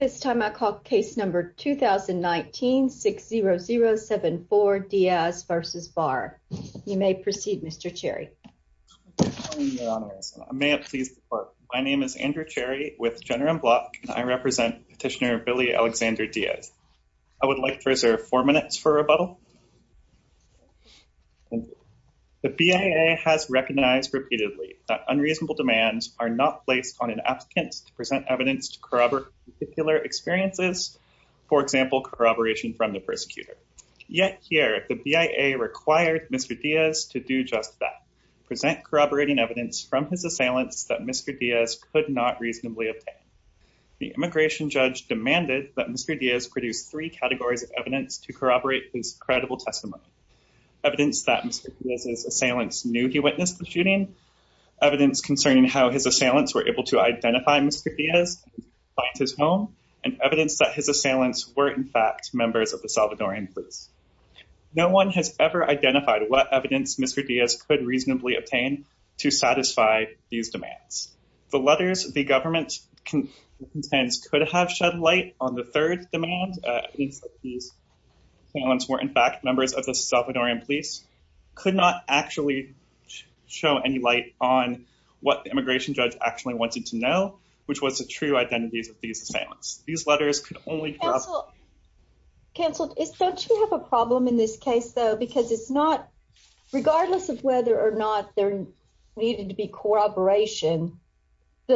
This time I call case number 2019-60074 Diaz v. Barr. You may proceed Mr. Cherry. May it please the court. My name is Andrew Cherry with General Block and I represent Petitioner Billy Alexander Diaz. I would like to reserve four minutes for rebuttal. The BIA has recognized repeatedly that unreasonable demands are not placed on an applicant to present evidence to corroborate particular experiences, for example corroboration from the persecutor. Yet here the BIA required Mr. Diaz to do just that, present corroborating evidence from his assailants that Mr. Diaz could not reasonably obtain. The immigration judge demanded that Mr. Diaz produce three categories of evidence to corroborate his credible testimony. Evidence that Mr. Diaz's assailants knew he his assailants were able to identify Mr. Diaz, find his home, and evidence that his assailants were in fact members of the Salvadoran police. No one has ever identified what evidence Mr. Diaz could reasonably obtain to satisfy these demands. The letters the government contends could have shed light on the third demand, evidence that his assailants were in fact members of the Salvadoran police, could not actually show any light on what the immigration judge actually wanted to know, which was the true identities of these assailants. These letters could only- Counsel, don't you have a problem in this case though? Because it's not, regardless of whether or not there needed to be corroboration, we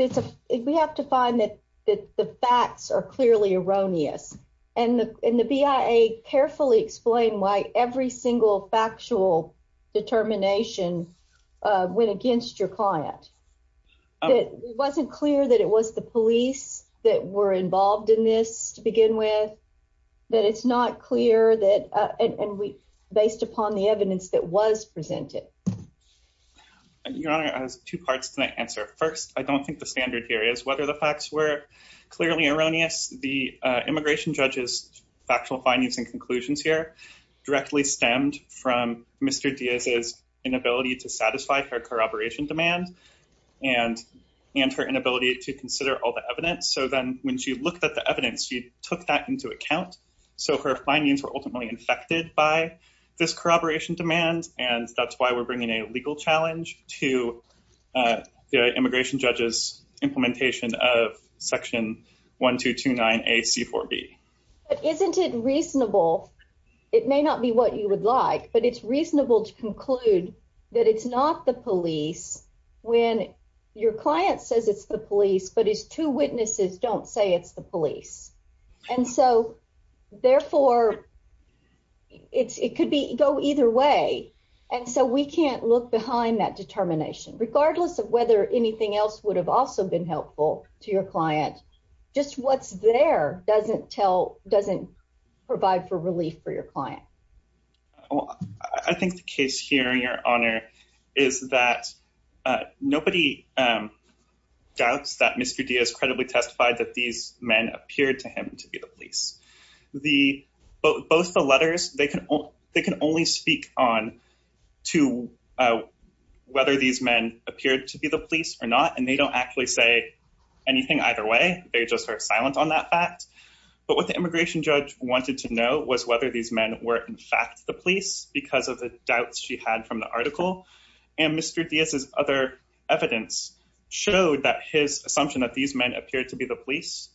have to find that the facts are clearly erroneous. And the BIA carefully explained why every single factual determination went against your client. It wasn't clear that it was the police that were involved in this to begin with, that it's not clear that, and based upon the evidence that was presented. Your Honor, I have two parts to that answer. First, I don't think the standard here is whether the facts were clearly erroneous. The immigration judge's factual findings and conclusions here directly stemmed from Mr. Diaz's inability to satisfy her corroboration demand and her inability to consider all the evidence. So then when she looked at the evidence, she took that into account. So her findings were ultimately infected by this corroboration demand, and that's why we're bringing a legal challenge to the immigration judge's implementation of But isn't it reasonable, it may not be what you would like, but it's reasonable to conclude that it's not the police when your client says it's the police, but his two witnesses don't say it's the police. And so therefore, it could go either way. And so we can't look behind that determination, regardless of whether anything else would have also been helpful to your client. Just what's there doesn't tell, doesn't provide for relief for your client. I think the case here, Your Honor, is that nobody doubts that Mr. Diaz credibly testified that these men appeared to him to be the police. Both the letters, they can only speak on whether these men appeared to be the police or not, and they don't actually say anything either way. They just are silent on that fact. But what the immigration judge wanted to know was whether these men were in fact the police because of the doubts she had from the article. And Mr. Diaz's other evidence showed that his assumption that these men appeared to be the police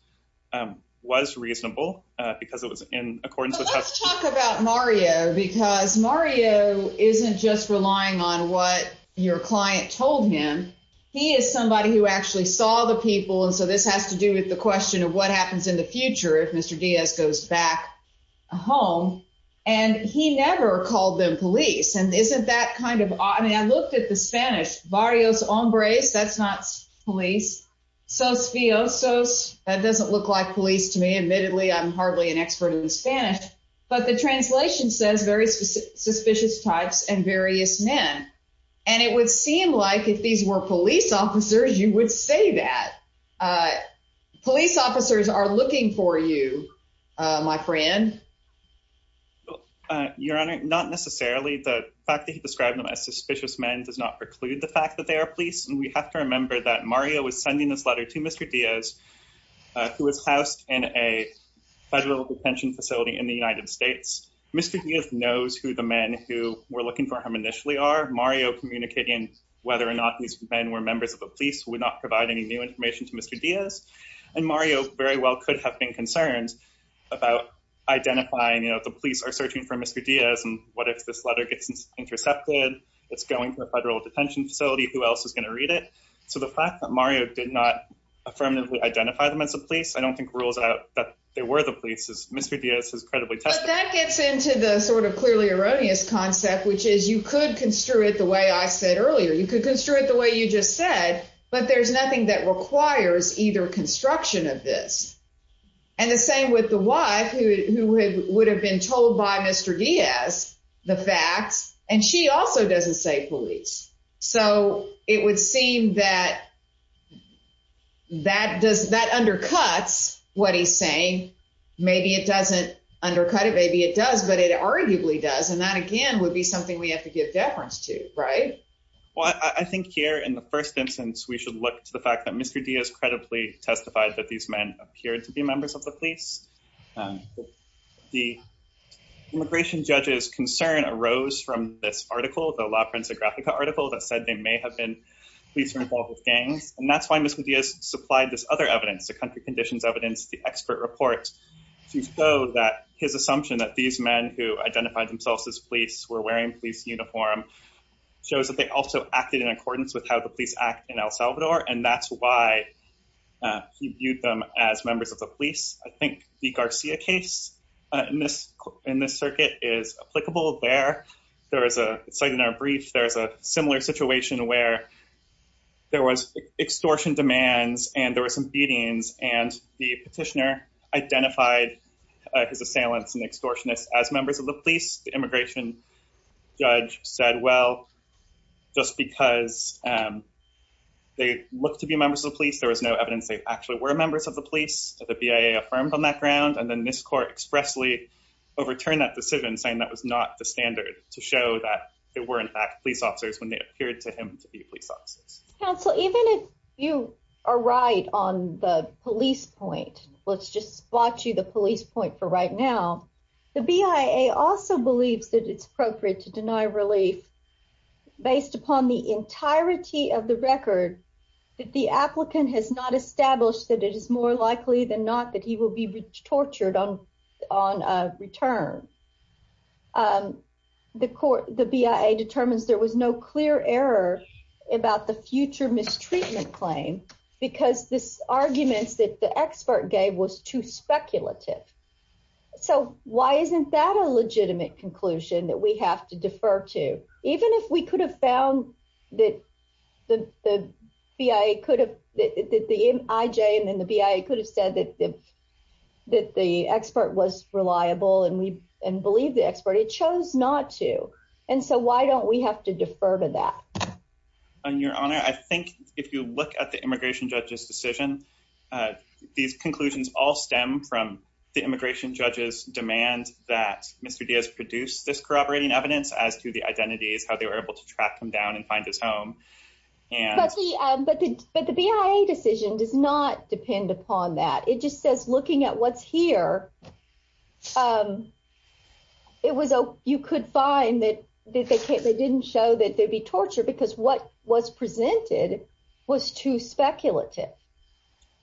was reasonable because it was in accordance with... Let's talk about Mario, because Mario isn't just relying on what your client told him. He is somebody who actually saw the people. And so this has to do with the question of what happens in the future if Mr. Diaz goes back home and he never called them police. And isn't that kind of odd? I mean, I looked at the Spanish, varios hombres, that's not police. Susfiosos, that doesn't look like police to me. Admittedly, I'm hardly an expert in Spanish. But the translation says very suspicious types and various men. And it would seem like if these were police officers, you would say that. Police officers are looking for you, my friend. Your Honor, not necessarily. The fact that he described them as suspicious men does not preclude the fact that they are police. And we have to remember that Mario was sending this letter to Mr. Diaz, who was housed in a federal detention facility in the United States. Mr. Diaz knows who the men who were these men were members of the police would not provide any new information to Mr. Diaz. And Mario very well could have been concerned about identifying, you know, the police are searching for Mr. Diaz. And what if this letter gets intercepted? It's going to a federal detention facility, who else is going to read it? So the fact that Mario did not affirmatively identify them as a police, I don't think rules out that they were the police as Mr. Diaz has credibly tested. That gets into the sort of clearly erroneous concept, which is you could construe it the way I said earlier, you could construe it the way you just said. But there's nothing that requires either construction of this. And the same with the wife who would have been told by Mr Diaz the facts. And she also doesn't say police. So it would seem that that does that undercuts what he's saying. Maybe it doesn't undercut it. Maybe it does, but it arguably does. And that again would be something we have to give deference to, right? Well, I think here in the first instance, we should look to the fact that Mr. Diaz credibly testified that these men appeared to be members of the police. The immigration judge's concern arose from this article, the La Prensa Grafica article that said they may have been police involved with gangs. And that's why Mr. Diaz supplied this other evidence, the country conditions evidence, the expert report, to show that his assumption that these men who identified themselves as police were wearing police uniform shows that they also acted in accordance with how the police act in El Salvador. And that's why he viewed them as members of the police. I think the Garcia case in this circuit is applicable there. There is a site in our brief, there's a similar situation where there was extortion demands, and there were some beatings and the petitioner his assailants and extortionists as members of the police, the immigration judge said, well, just because they look to be members of the police, there was no evidence they actually were members of the police, the BIA affirmed on that ground. And then this court expressly overturned that decision saying that was not the standard to show that they were in fact police officers when they appeared to him to be police officers. Counsel, even if you are right on the police point, let's just spot you the police point for right now. The BIA also believes that it's appropriate to deny relief based upon the entirety of the record, that the applicant has not established that it is more likely than not that he will be tortured on on return. The court, the BIA determines there was no clear error about the future mistreatment claim, because this arguments that the expert gave was too speculative. So why isn't that a legitimate conclusion that we have to defer to, even if we could have found that the BIA could have that the IJ and then the BIA could have said that, that the expert was reliable, and we believe the expert he chose not to. And so why don't we have to defer to that? Your Honor, I think if you look at the immigration judge's decision, these conclusions all stem from the immigration judges demand that Mr. Diaz produce this corroborating evidence as to the identities, how they were able to track them down and find his home. And but the BIA decision does not depend upon that. It just says looking at what's here. It was a you could find that they can't they didn't show that they'd be tortured because what was presented was too speculative.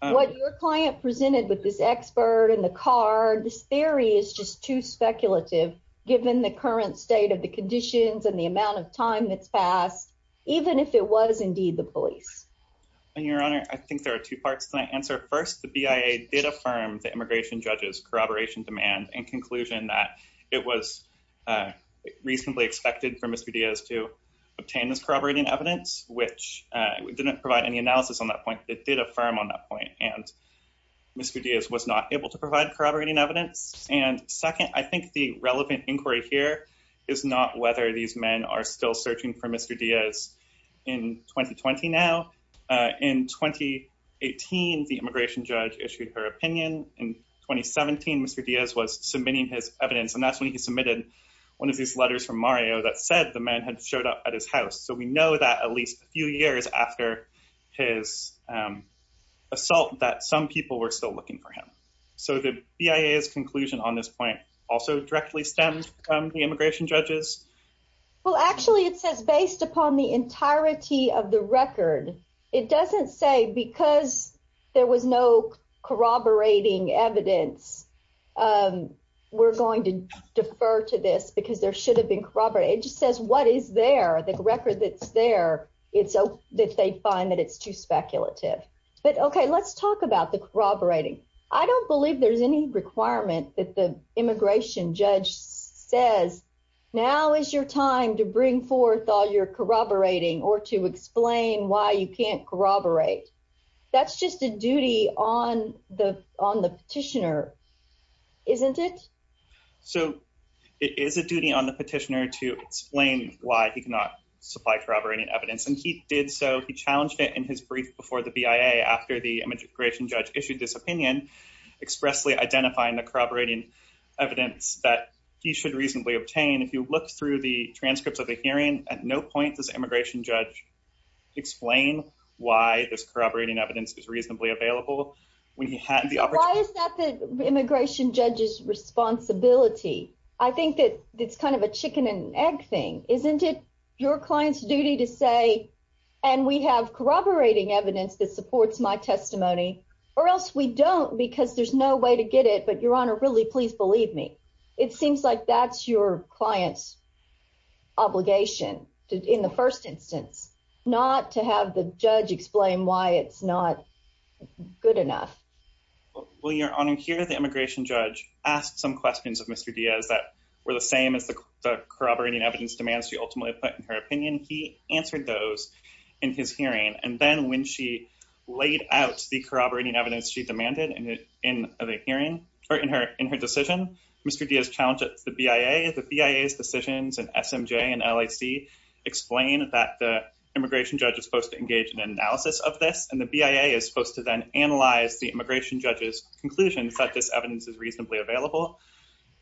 What your client presented with this expert in the car, this theory is just too speculative, given the current state of the conditions and the amount of time that's passed, even if it was indeed the police. And Your Honor, I think there are two parts to my answer. First, the BIA did affirm the immigration judges corroboration demand and conclusion that it was reasonably expected for Mr. Diaz to obtain this corroborating evidence, which didn't provide any analysis on that point. It did affirm on that point. And Mr. Diaz was not able to provide corroborating evidence. And second, I think the relevant inquiry here is not whether these men are still searching for Mr. Diaz in 2020. Now, in 2018, the immigration judge issued her evidence. And that's when he submitted one of these letters from Mario that said the man had showed up at his house. So we know that at least a few years after his assault, that some people were still looking for him. So the BIA's conclusion on this point also directly stemmed from the immigration judges. Well, actually, it says based upon the entirety of the record, it doesn't say because there was no corroborating evidence, we're going to defer to this because there should have been corroborated. It just says what is there, the record that's there, it's so that they find that it's too speculative. But okay, let's talk about the corroborating. I don't believe there's any requirement that the immigration judge says, now is your time to bring forth all your corroborating or to explain why you can't corroborate. That's just a duty on the on the petitioner, isn't it? So it is a duty on the petitioner to explain why he cannot supply corroborating evidence. And he did. So he challenged it in his brief before the BIA after the immigration judge issued this opinion, expressly identifying the corroborating evidence that he should reasonably obtain. If you look through the transcripts of the hearing, at no point does immigration judge explain why this corroborating evidence is reasonably available when he had the opportunity immigration judge's responsibility. I think that it's kind of a chicken and egg thing, isn't it? Your client's duty to say, and we have corroborating evidence that supports my testimony or else we don't because there's no way to get it. But your honor, really, please believe me. It seems like that's your client's obligation in the first instance, not to have the judge explain why it's not good enough. Well, your honor, here, the immigration judge asked some questions of Mr. Diaz that were the same as the corroborating evidence demands she ultimately put in her opinion. He answered those in his hearing. And then when she laid out the corroborating evidence she demanded in the hearing or in her in her decision, Mr. Diaz challenged the BIA, the BIA's decisions and SMJ and LAC explain that the immigration judge is supposed to engage in an analysis of this and the BIA is supposed to then analyze the immigration judge's conclusions that this evidence is reasonably available.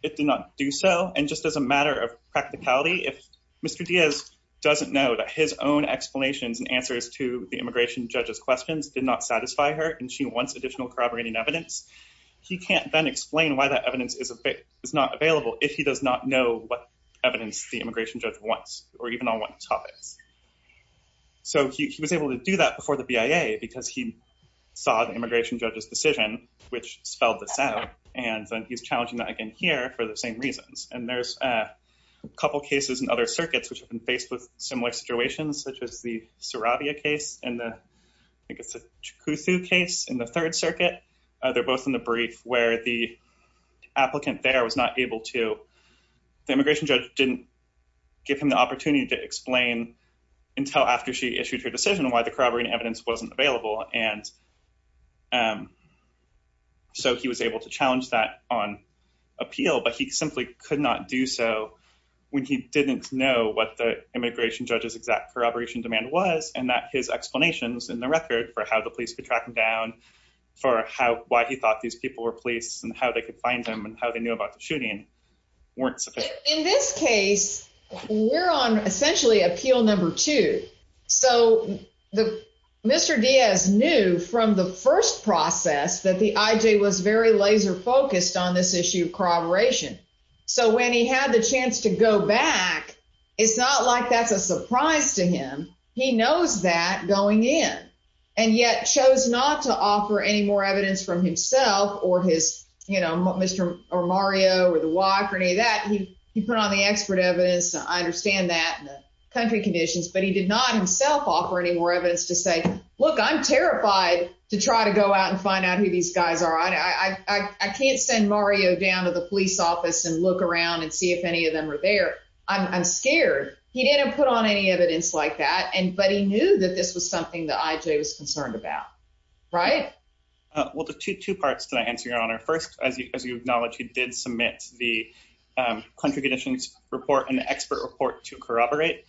It did not do so. And just as a matter of practicality, if Mr. Diaz doesn't know that his own explanations and answers to the immigration judge's questions did not satisfy her and she wants additional corroborating evidence, he can't then explain why that evidence is a bit is not available if he does not know what evidence the immigration judge wants or even on what topics. So he was able to do that before the BIA because he saw the immigration judge's decision, which spelled this out. And then he's challenging that again here for the same reasons. And there's a couple cases in other circuits which have been faced with similar situations, such as the Saravia case and the Chukuthu case in the Third Circuit. They're both in the brief where the applicant there was not able to, the immigration judge didn't give him the opportunity to explain until after she issued her decision why the corroborating evidence wasn't available. And so he was able to challenge that on appeal, but he simply could not do so when he didn't know what the immigration judge's exact corroboration demand was and that his explanations in the record for how the police could track him down for how why he thought these people were police and how they could find him and how they knew about the shooting weren't. In this case, we're on essentially appeal number two. So Mr Diaz knew from the first process that the I. J. Was very laser focused on this issue of corroboration. So when he had the chance to go back, it's not like that's a surprise to him. He knows that going in and yet chose not to offer any more evidence from himself or his, you know, Mr Mario or the walk or any of that. He put on the expert evidence. I understand that country conditions, but he did not himself offer any more evidence to say, Look, I'm terrified to try to go out and find out who these guys are. I can't send Mario down to the police office and look around and see if any of them were there. I'm scared. He didn't put on any evidence like that, but he knew that this was something that I. J. Was concerned about, right? Well, the 22 parts to answer your honor. First, as you acknowledge, he did submit the country conditions report and expert report to corroborate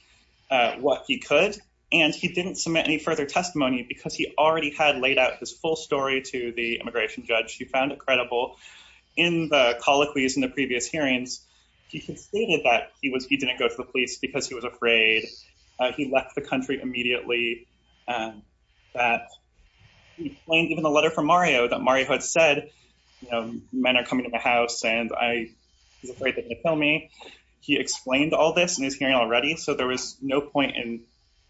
what he could, and he didn't submit any further testimony because he already had laid out his full story to the immigration judge. He found it credible in the colloquies in the previous hearings. He stated that he was. He didn't go to the police because he was afraid he left the plane. Even the letter from Mario that Mario had said men are coming in the house, and I was afraid to tell me he explained all this news here already. So there was no point in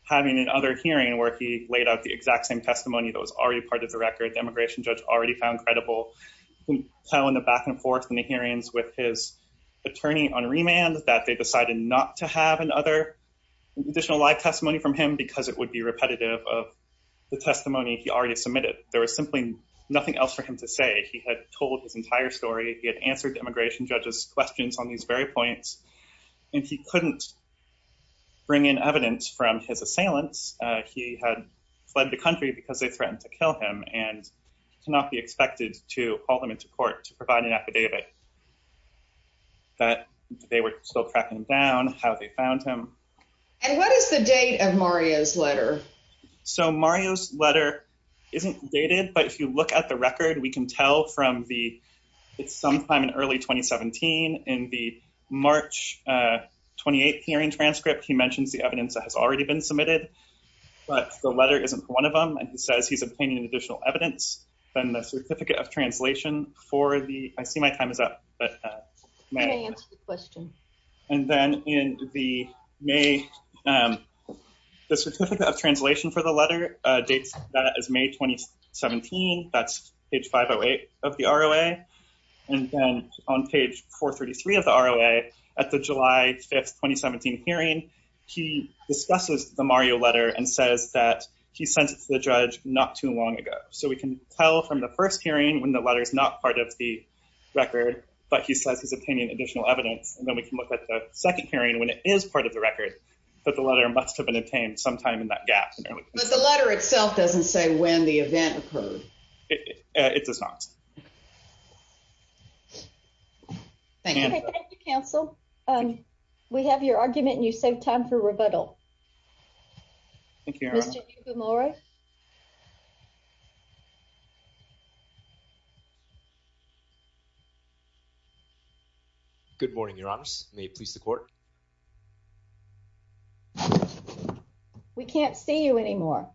having another hearing where he laid out the exact same testimony that was already part of the record. Immigration judge already found credible. How in the back and forth in the hearings with his attorney on remand that they decided not to have another additional live testimony from him because it would be repetitive of the testimony he already submitted. There was simply nothing else for him to say. He had told his entire story. He had answered immigration judges questions on these very points, and he couldn't bring in evidence from his assailants. He had fled the country because they threatened to kill him and cannot be expected to call them into court to provide an affidavit that they were still tracking down how they found him. And what is the date of Mario's letter? So Mario's letter isn't dated, but if you look at the record, we can tell from the it's sometime in early 2017 in the March 28th hearing transcript, he mentions the evidence that has already been submitted. But the letter isn't one of them, and he says he's obtaining additional evidence. Then the certificate of translation for the I see my time is up, but may answer the May. The certificate of translation for the letter dates that as May 2017. That's page 508 of the R. O. A. And then on page 4 33 of the R. O. A. At the July 5th 2017 hearing, he discusses the Mario letter and says that he sent it to the judge not too long ago. So we can tell from the first hearing when the letter is not part of the record, but he says his opinion, additional evidence. And it is part of the record, but the letter must have been obtained sometime in that gap. But the letter itself doesn't say when the event occurred. It does not. Thank you, Counsel. Um, we have your argument. You save time for rebuttal. Thank you, Laura. Good morning, Your Honors. May it please the court? We can't see you anymore,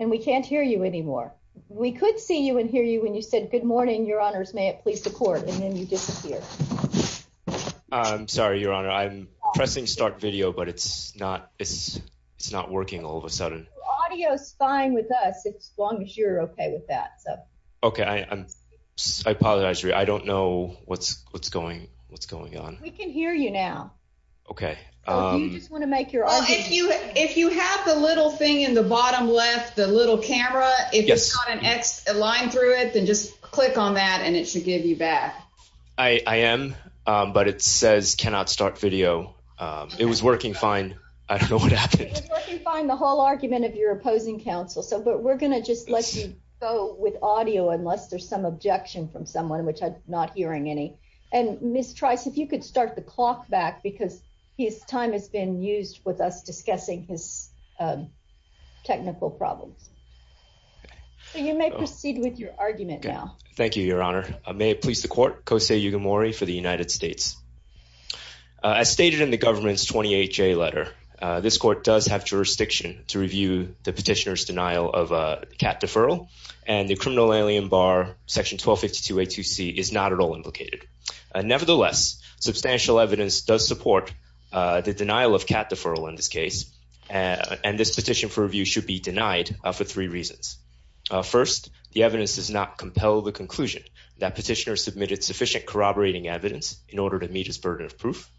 and we can't hear you anymore. We could see you and hear you when you said good morning, Your Honors. May it please the court? And then you disappear. I'm sorry, Your Honor. I'm pressing start video, but it's not. It's it's not. It's not working. All of a sudden, audio is fine with us. It's long as you're okay with that. So, okay, I apologize. I don't know what's what's going. What's going on? We can hear you now. Okay, you just want to make your if you if you have the little thing in the bottom left, the little camera, it's got an X line through it. Then just click on that, and it should give you back. I am, but it find the whole argument of your opposing counsel. So but we're gonna just let you go with audio unless there's some objection from someone which I'm not hearing any. And, Miss Trice, if you could start the clock back because his time has been used with us discussing his, um, technical problems. You may proceed with your argument now. Thank you, Your Honor. May it please the court? Kosei Yugimori for the United States. As stated in the government's 28 J letter, this court does have jurisdiction to review the petitioner's denial of a cat deferral, and the criminal alien bar section 12 52 A to C is not at all implicated. Nevertheless, substantial evidence does support the denial of cat deferral in this case, and this petition for review should be denied for three reasons. First, the evidence does not compel the conclusion that petitioner submitted sufficient corroborating evidence in order to meet his burden of proof.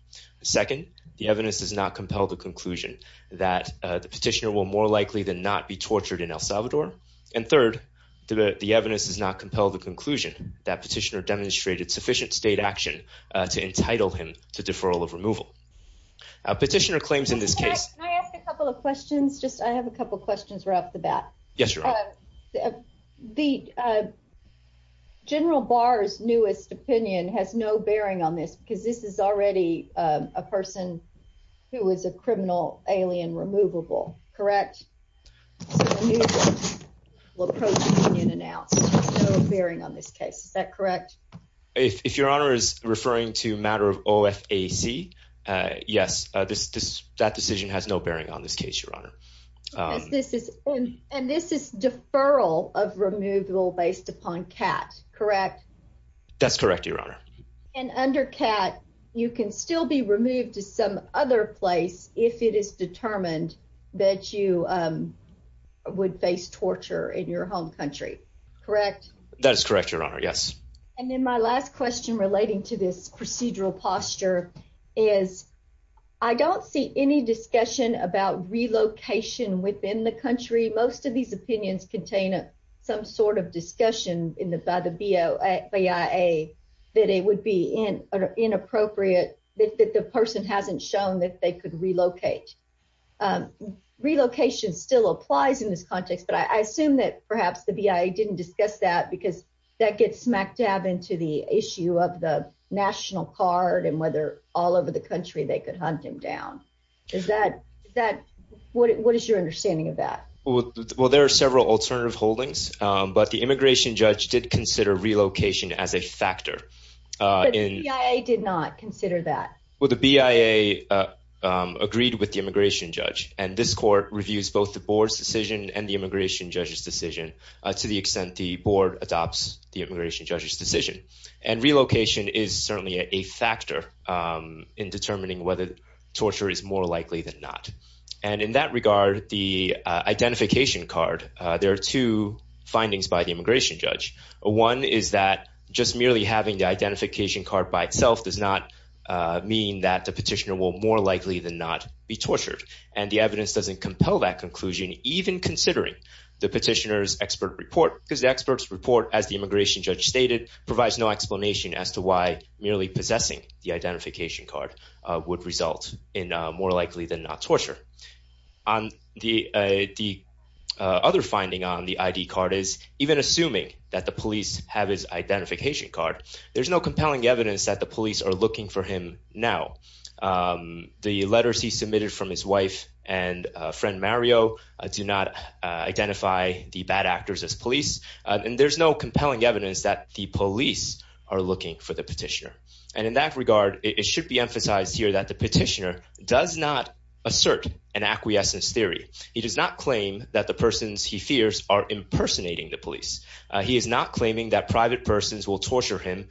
Second, the evidence does not compel the conclusion that the petitioner will more likely than not be tortured in El Salvador. And third, the evidence does not compel the conclusion that petitioner demonstrated sufficient state action to entitle him to deferral of removal. Petitioner claims in this case, I asked a couple of questions. Just I have a couple questions were off the bat. Yes, has no bearing on this because this is already a person who is a criminal alien removable. Correct? Look, bearing on this case. Is that correct? If your honor is referring to matter of O. F. A. C. Yes, this that decision has no bearing on this case, Your Honor. Um, this is and this is deferral of removal based upon cat. Correct? That's correct, Your Honor. And under cat, you can still be removed to some other place if it is determined that you, um, would face torture in your home country. Correct? That is correct, Your Honor. Yes. And then my last question relating to this procedural posture is I don't see any discussion about relocation within the country. Most of these opinions contain some sort of discussion in the by the B. O. B. I. A. That it would be in inappropriate that the person hasn't shown that they could relocate. Um, relocation still applies in this context, but I assume that perhaps the B. I. A. Didn't discuss that because that gets smack dab into the issue of the national card and whether all over the country they could hunt him down. Is that that what is your understanding of that? Well, there are several alternative holdings, but the immigration judge did consider relocation as a factor in. I did not consider that. Well, the B. I. A. Uh, agreed with the immigration judge, and this court reviews both the board's decision and the immigration judge's decision to the extent the board adopts the immigration judge's decision. And relocation is certainly a factor, um, in determining whether torture is more likely than not. And in that regard, the identification card, there are two findings by the immigration judge. One is that just merely having the identification card by itself does not mean that the petitioner will more likely than not be tortured. And the evidence doesn't compel that conclusion, even considering the petitioners expert report because the experts report, as the immigration judge stated, provides no explanation as to why merely possessing the identification card would result in more likely than not even assuming that the police have his identification card. There's no compelling evidence that the police are looking for him now. Um, the letters he submitted from his wife and friend Mario do not identify the bad actors as police, and there's no compelling evidence that the police are looking for the petitioner. And in that regard, it should be emphasized here that the petitioner does not assert an acquiescence theory. He does not claim that the persons he fears are impersonating the police. He is not claiming that private persons will torture him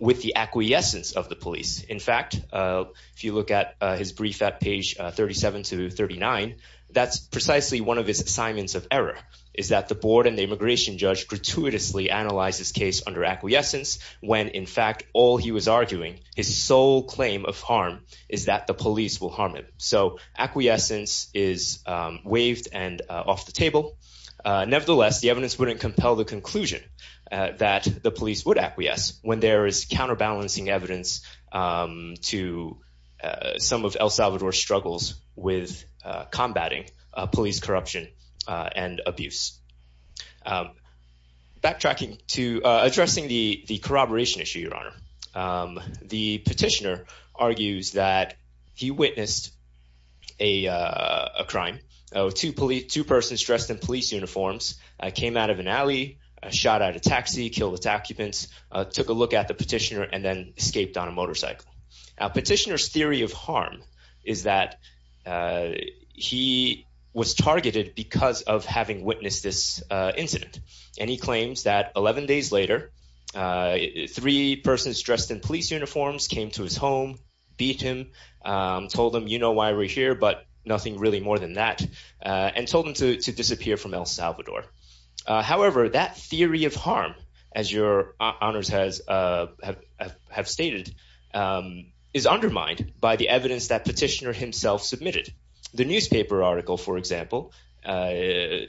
with the acquiescence of the police. In fact, if you look at his brief at page 37 to 39, that's precisely one of his assignments of error is that the board and the immigration judge gratuitously analyzed his case under acquiescence when, in fact, all he was arguing his soul claim of harm is that the police will harm So acquiescence is waived and off the table. Nevertheless, the evidence wouldn't compel the conclusion that the police would acquiesce when there is counterbalancing evidence to some of El Salvador struggles with combating police corruption and abuse. Um, backtracking to addressing the corroboration issue, Your Honor. Um, the petitioner argues that he witnessed a crime. Oh, to police. Two persons dressed in police uniforms came out of an alley, shot out a taxi, killed its occupants, took a look at the petitioner and then escaped on a motorcycle. Petitioner's theory of harm is that, uh, he was targeted because of having witnessed this incident, and he claims that 11 days later, uh, three persons dressed in police uniforms came to his home, beat him, told him, You know why we're here, but nothing really more than that on told him to disappear from El Salvador. However, that theory of harm, as your honors has, uh, have stated, um, is undermined by the evidence that petitioner himself submitted. The newspaper article, for example, uh,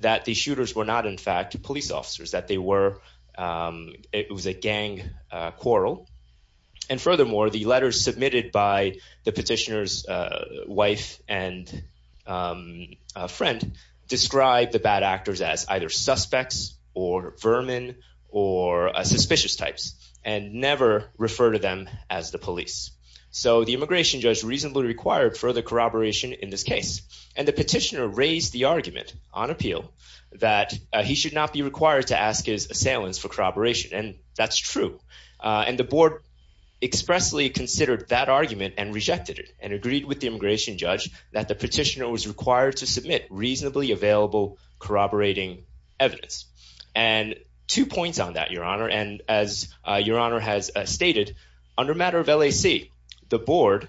that the shooters were not, in fact, police officers that they were. Um, it was a gang quarrel. And furthermore, the letters submitted by the petitioner's wife and, um, friend described the bad actors as either suspects or vermin or suspicious types and never referred to them as the police. So the immigration judge reasonably required further corroboration in this case, and the petitioner raised the argument on appeal that he should not be required to ask his assailants for corroboration. And that's true. Uh, and the board expressly considered that argument and rejected it and agreed with the immigration judge that the petitioner was required to submit reasonably available corroborating evidence and two points on that your honor. And as your honor has stated under matter of L. A. C. The board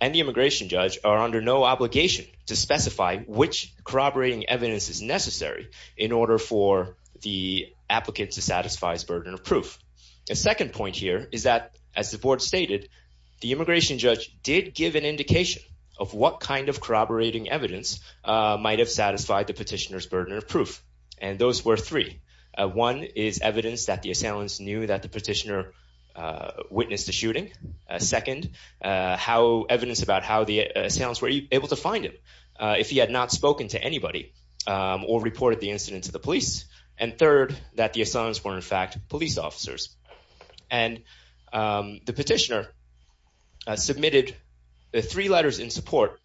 and the immigration judge are under no obligation to specify which corroborating evidence is necessary in order for the applicant to satisfies burden of proof. A second point here is that, as the board stated, the immigration judge did give an indication of what kind of corroborating evidence might have satisfied the petitioner's burden of proof. And those were three. One is evidence that the assailants knew that the petitioner witnessed the shooting. Second, how evidence about how the assailants were able to find him if he had not spoken to anybody or reported the incident to the police. And third, that the assailants were, in fact, police officers. And the petitioner submitted the three letters in support.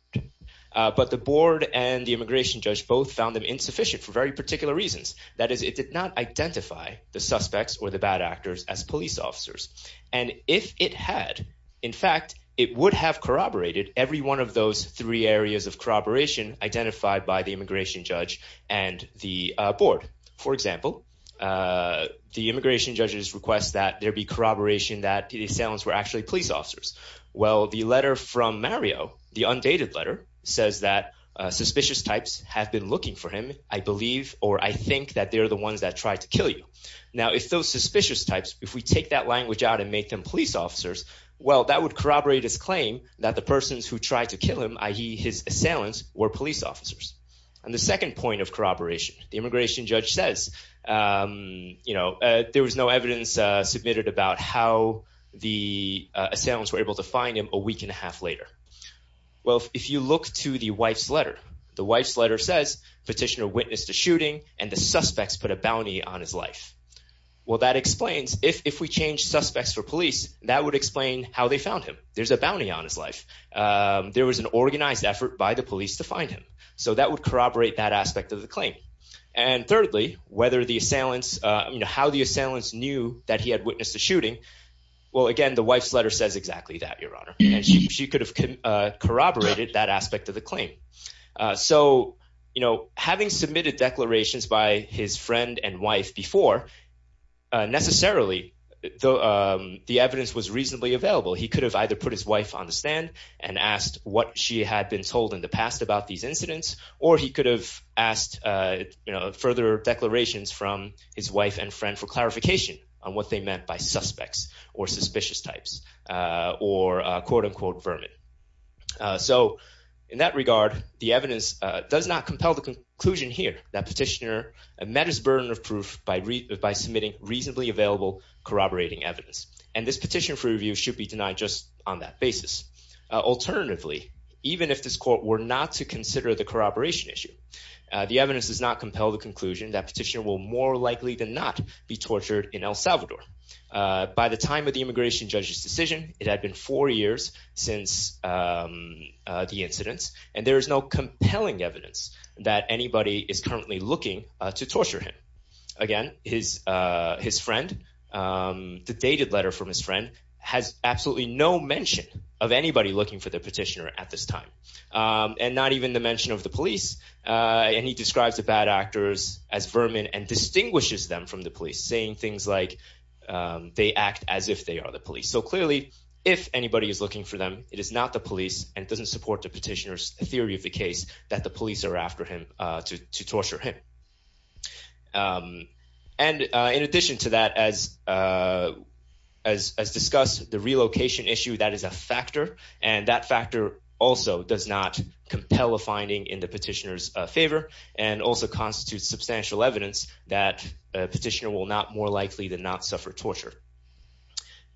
But the board and the immigration judge both found them insufficient for very particular reasons. That is, it did not identify the suspects or the bad actors as police officers. And if it had, in fact, it would have corroborated every one of those three areas of corroboration identified by the immigration judge and the board. For example, the immigration judges request that there be corroboration that the assailants were actually police officers. Well, the letter from Mario, the undated letter, says that suspicious types have been looking for him, I believe, or I think that they're the ones that tried to kill you. Now, if those suspicious types, if we take that language out and make them police officers, well, that would corroborate his claim that the persons who tried to kill him, i.e. his assailants, were police officers. And the second point of corroboration, the immigration judge says, you know, there was no evidence submitted about how the assailants were able to find him a week and a half later. Well, if you look to the wife's letter, the wife's letter says petitioner witnessed a shooting and the suspects put a bounty on his life. Well, that explains if we change suspects for police, that would explain how they found him. There's a bounty on his life. There was an organized effort by the police to find him. So that would corroborate that aspect of the claim. And thirdly, whether the assailants, you know, how the assailants knew that he had witnessed a shooting. Well, again, the wife's letter says exactly that, Your Honor. She could have corroborated that aspect of the claim. So, you know, having submitted declarations by his friend and wife before, necessarily, the evidence was reasonably available. He could have either put his wife on the stand and asked what she had been told in the past about these incidents. Or he could have asked, you know, further declarations from his wife and friend for clarification on what they meant by suspects or suspicious types or, quote unquote, vermin. So in that regard, the evidence does not compel the conclusion here that petitioner met his burden of proof by by submitting reasonably available corroborating evidence. And this petition for review should be denied just on that basis. Alternatively, even if this court were not to consider the corroboration issue, the evidence does not compel the conclusion that petitioner will more likely than not be tortured in El Salvador. By the time of the immigration judge's decision, it had been four years since the incidents, and there is no compelling evidence that anybody is currently looking to torture him. Again, his his friend, the dated letter from his friend has absolutely no mention of anybody looking for the petitioner at this time, and not even the mention of the police. And he describes the bad actors as vermin and distinguishes them from the police saying things like they act as if they are the police. So clearly, if anybody is looking for them, it is not the police and doesn't support the petitioners theory of the case that the police are after him to torture him. And in addition to that, as as as discussed the relocation issue, that is a factor. And that factor also does not compel a finding in the petitioner's favor and also constitutes substantial evidence that petitioner will not more likely than not suffer torture.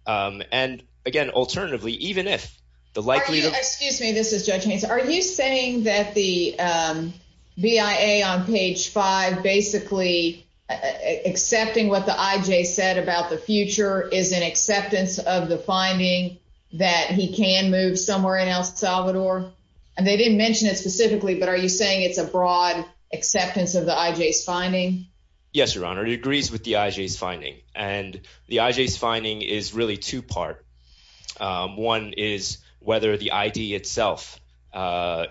And again, alternatively, even if the likely excuse me, this is judging. Are you saying that the B I A on page five basically accepting what the I J said about the future is an that he can move somewhere in El Salvador, and they didn't mention it specifically. But are you saying it's a broad acceptance of the I J s finding? Yes, Your Honor. It agrees with the I J s finding, and the I J s finding is really two part. One is whether the I D itself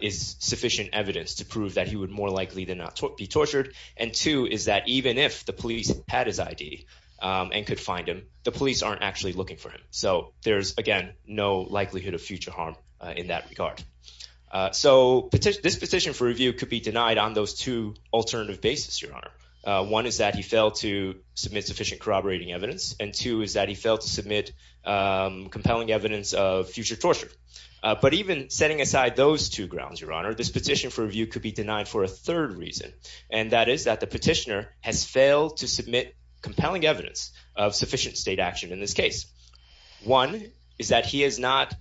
is sufficient evidence to prove that he would more likely than not be tortured. And two is that even if the police had his I D on could find him, the police aren't actually looking for him. So there's again no likelihood of future harm in that regard. So this petition for review could be denied on those two alternative basis. Your Honor. One is that he failed to submit sufficient corroborating evidence, and two is that he failed to submit compelling evidence of future torture. But even setting aside those two grounds, Your Honor, this petition for review could be denied for a third reason, and that is that the petitioner has failed to submit compelling evidence of sufficient state action in this case. One is that he has not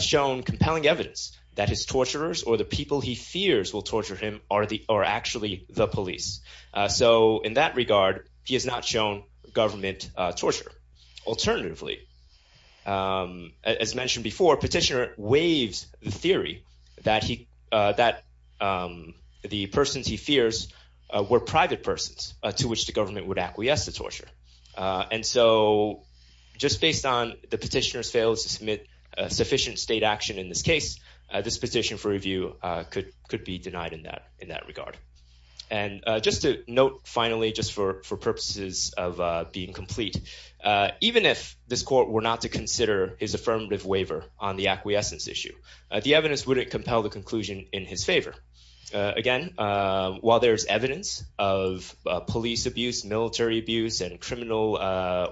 shown compelling evidence that his torturers or the people he fears will torture him are actually the police. So in that regard, he has not shown government torture. Alternatively, as mentioned before, petitioner waives the theory that the persons he fears were private persons to which the government would acquiesce to torture. And so just based on the petitioner's failed to submit sufficient state action in this case, this petition for review could could be denied in that in that regard. And just to note finally, just for purposes of being complete, even if this court were not to consider his affirmative waiver on the acquiescence issue, the evidence wouldn't compel the conclusion in his favor. Again, while there's evidence of police abuse, military abuse and criminal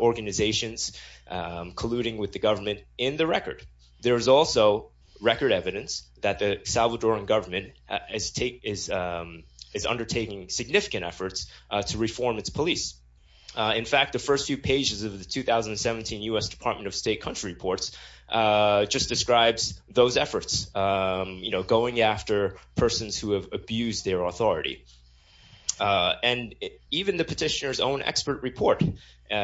organizations colluding with the government in the record, there is also record evidence that the Salvadoran government is undertaking significant efforts to reform its police. In fact, the first few pages of the 2017 U.S. Department of State Country Reports just describes those efforts, you know, going after persons who have abused their authority. And even the petitioner's own expert report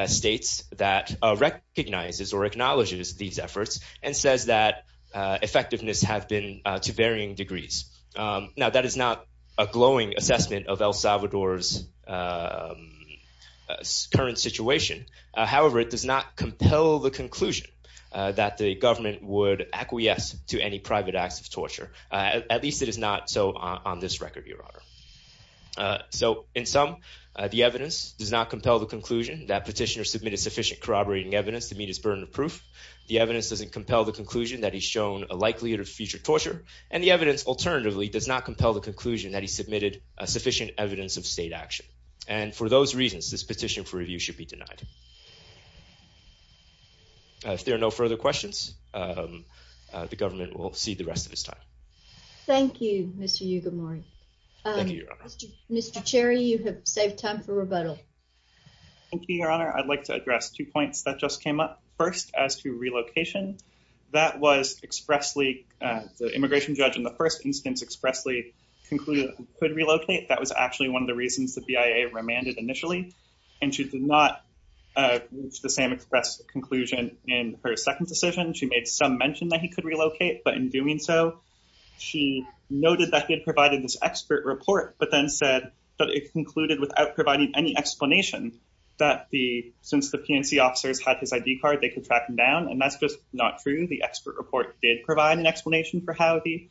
states that recognizes or acknowledges these efforts and says that effectiveness have been to varying degrees. Now, that is not a glowing assessment of El Salvador's current situation. However, it does not compel the conclusion that the government would acquiesce to any private acts of so on this record, Your Honor. So in some, the evidence does not compel the conclusion that petitioner submitted sufficient corroborating evidence to meet his burden of proof. The evidence doesn't compel the conclusion that he's shown a likelihood of future torture. And the evidence alternatively does not compel the conclusion that he submitted sufficient evidence of state action. And for those reasons, this petition for review should be denied. If there are no further questions, the government will see the rest of this Thank you, Mr. Yugamori. Mr. Cherry, you have saved time for rebuttal. Thank you, Your Honor. I'd like to address two points that just came up first as to relocation. That was expressly the immigration judge in the first instance expressly concluded could relocate. That was actually one of the reasons the BIA remanded initially, and she did not reach the same express conclusion in her second decision. She made some mention that he could she noted that he had provided this expert report, but then said that it concluded without providing any explanation that the since the PNC officers had his ID card, they could track him down. And that's just not true. The expert report did provide an explanation for how the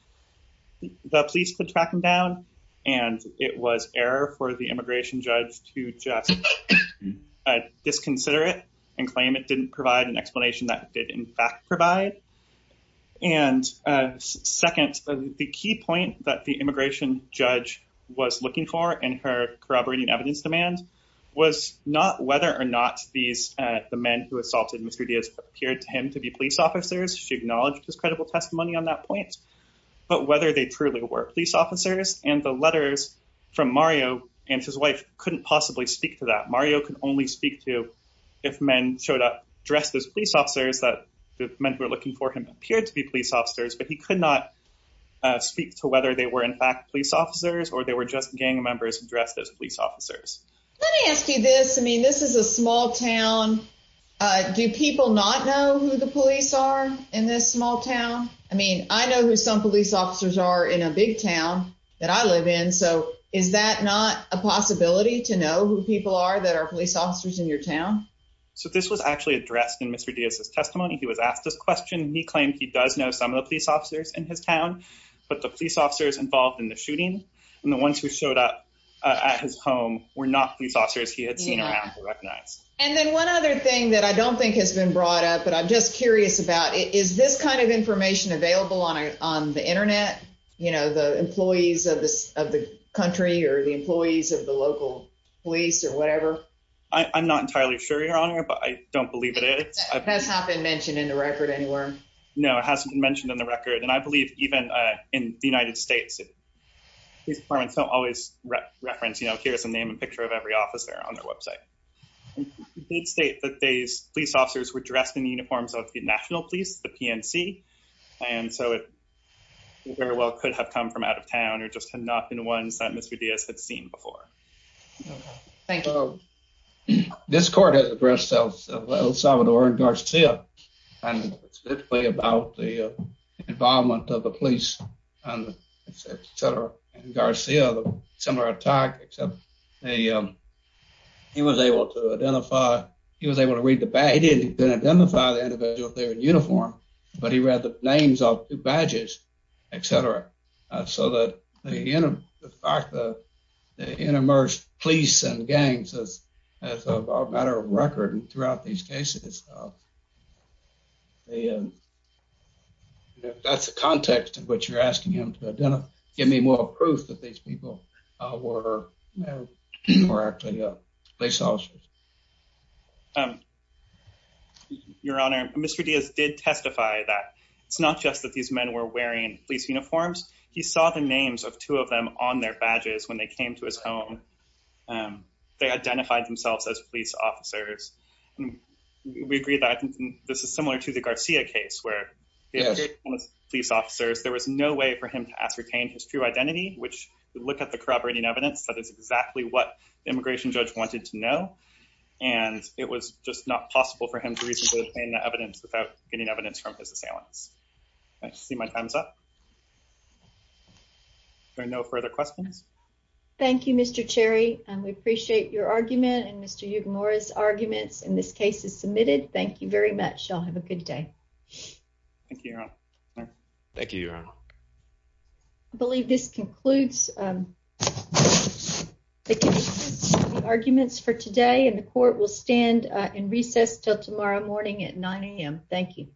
police could track him down. And it was error for the immigration judge to just disconsider it and claim it didn't provide an explanation that did in fact provide. And second, the key point that the immigration judge was looking for in her corroborating evidence demand was not whether or not these men who assaulted Mr. Diaz appeared to him to be police officers. She acknowledged his credible testimony on that point, but whether they truly were police officers and the letters from Mario and his wife couldn't possibly speak to that. Mario could only speak to if men showed up dressed as police officers that meant we're looking for him appeared to be police officers, but he could not speak to whether they were, in fact, police officers or they were just gang members dressed as police officers. Let me ask you this. I mean, this is a small town. Do people not know who the police are in this small town? I mean, I know who some police officers are in a big town that I live in. So is that not a possibility to know who people are that are police as testimony? He was asked this question. He claimed he does know some of the police officers in his town, but the police officers involved in the shooting and the ones who showed up at his home were not these officers he had seen around recognized. And then one other thing that I don't think has been brought up, but I'm just curious about is this kind of information available on on the Internet? You know, the employees of the country or the employees of the local police or whatever. I'm not entirely sure, Your has not been mentioned in the record anywhere. No, it hasn't been mentioned in the record, and I believe even in the United States, it is. Parents don't always reference. You know, here's the name and picture of every officer on their website. They'd state that these police officers were dressed in uniforms of the national police, the PNC, and so it very well could have come from out of town or just had not been the ones that Mr Diaz had seen before. Thank you. This court has addressed El Salvador and Garcia and specifically about the involvement of the police on etcetera. Garcia, similar attack, except they, um, he was able to identify he was able to read the bag. He didn't identify the individual there in uniform, but he read the names off badges, etcetera. So that the fact that the intermersed police and gangs this as a matter of record throughout these cases, the that's a context in which you're asking him to identify. Give me more proof that these people were, you know, we're actually a police officers. Um, your honor, Mr Diaz did testify that it's not just that these men were wearing police uniforms. He saw the names of two of them on their badges when they came to his home. Um, they identified themselves as police officers. We agree that this is similar to the Garcia case where police officers, there was no way for him to ascertain his true identity, which look at the corroborating evidence. That is exactly what immigration judge wanted to know, and it was just not possible for him to reason to obtain the evidence without getting evidence from his assailants. I see my time's up. There are no further questions. Thank you, Mr Cherry. We appreciate your argument and Mr. You've Morris arguments in this case is submitted. Thank you very much. Y'all have a good day. Thank you. Thank you. I believe this concludes um, the arguments for today, and the court will stand in recess till tomorrow morning at nine a.m. Thank you.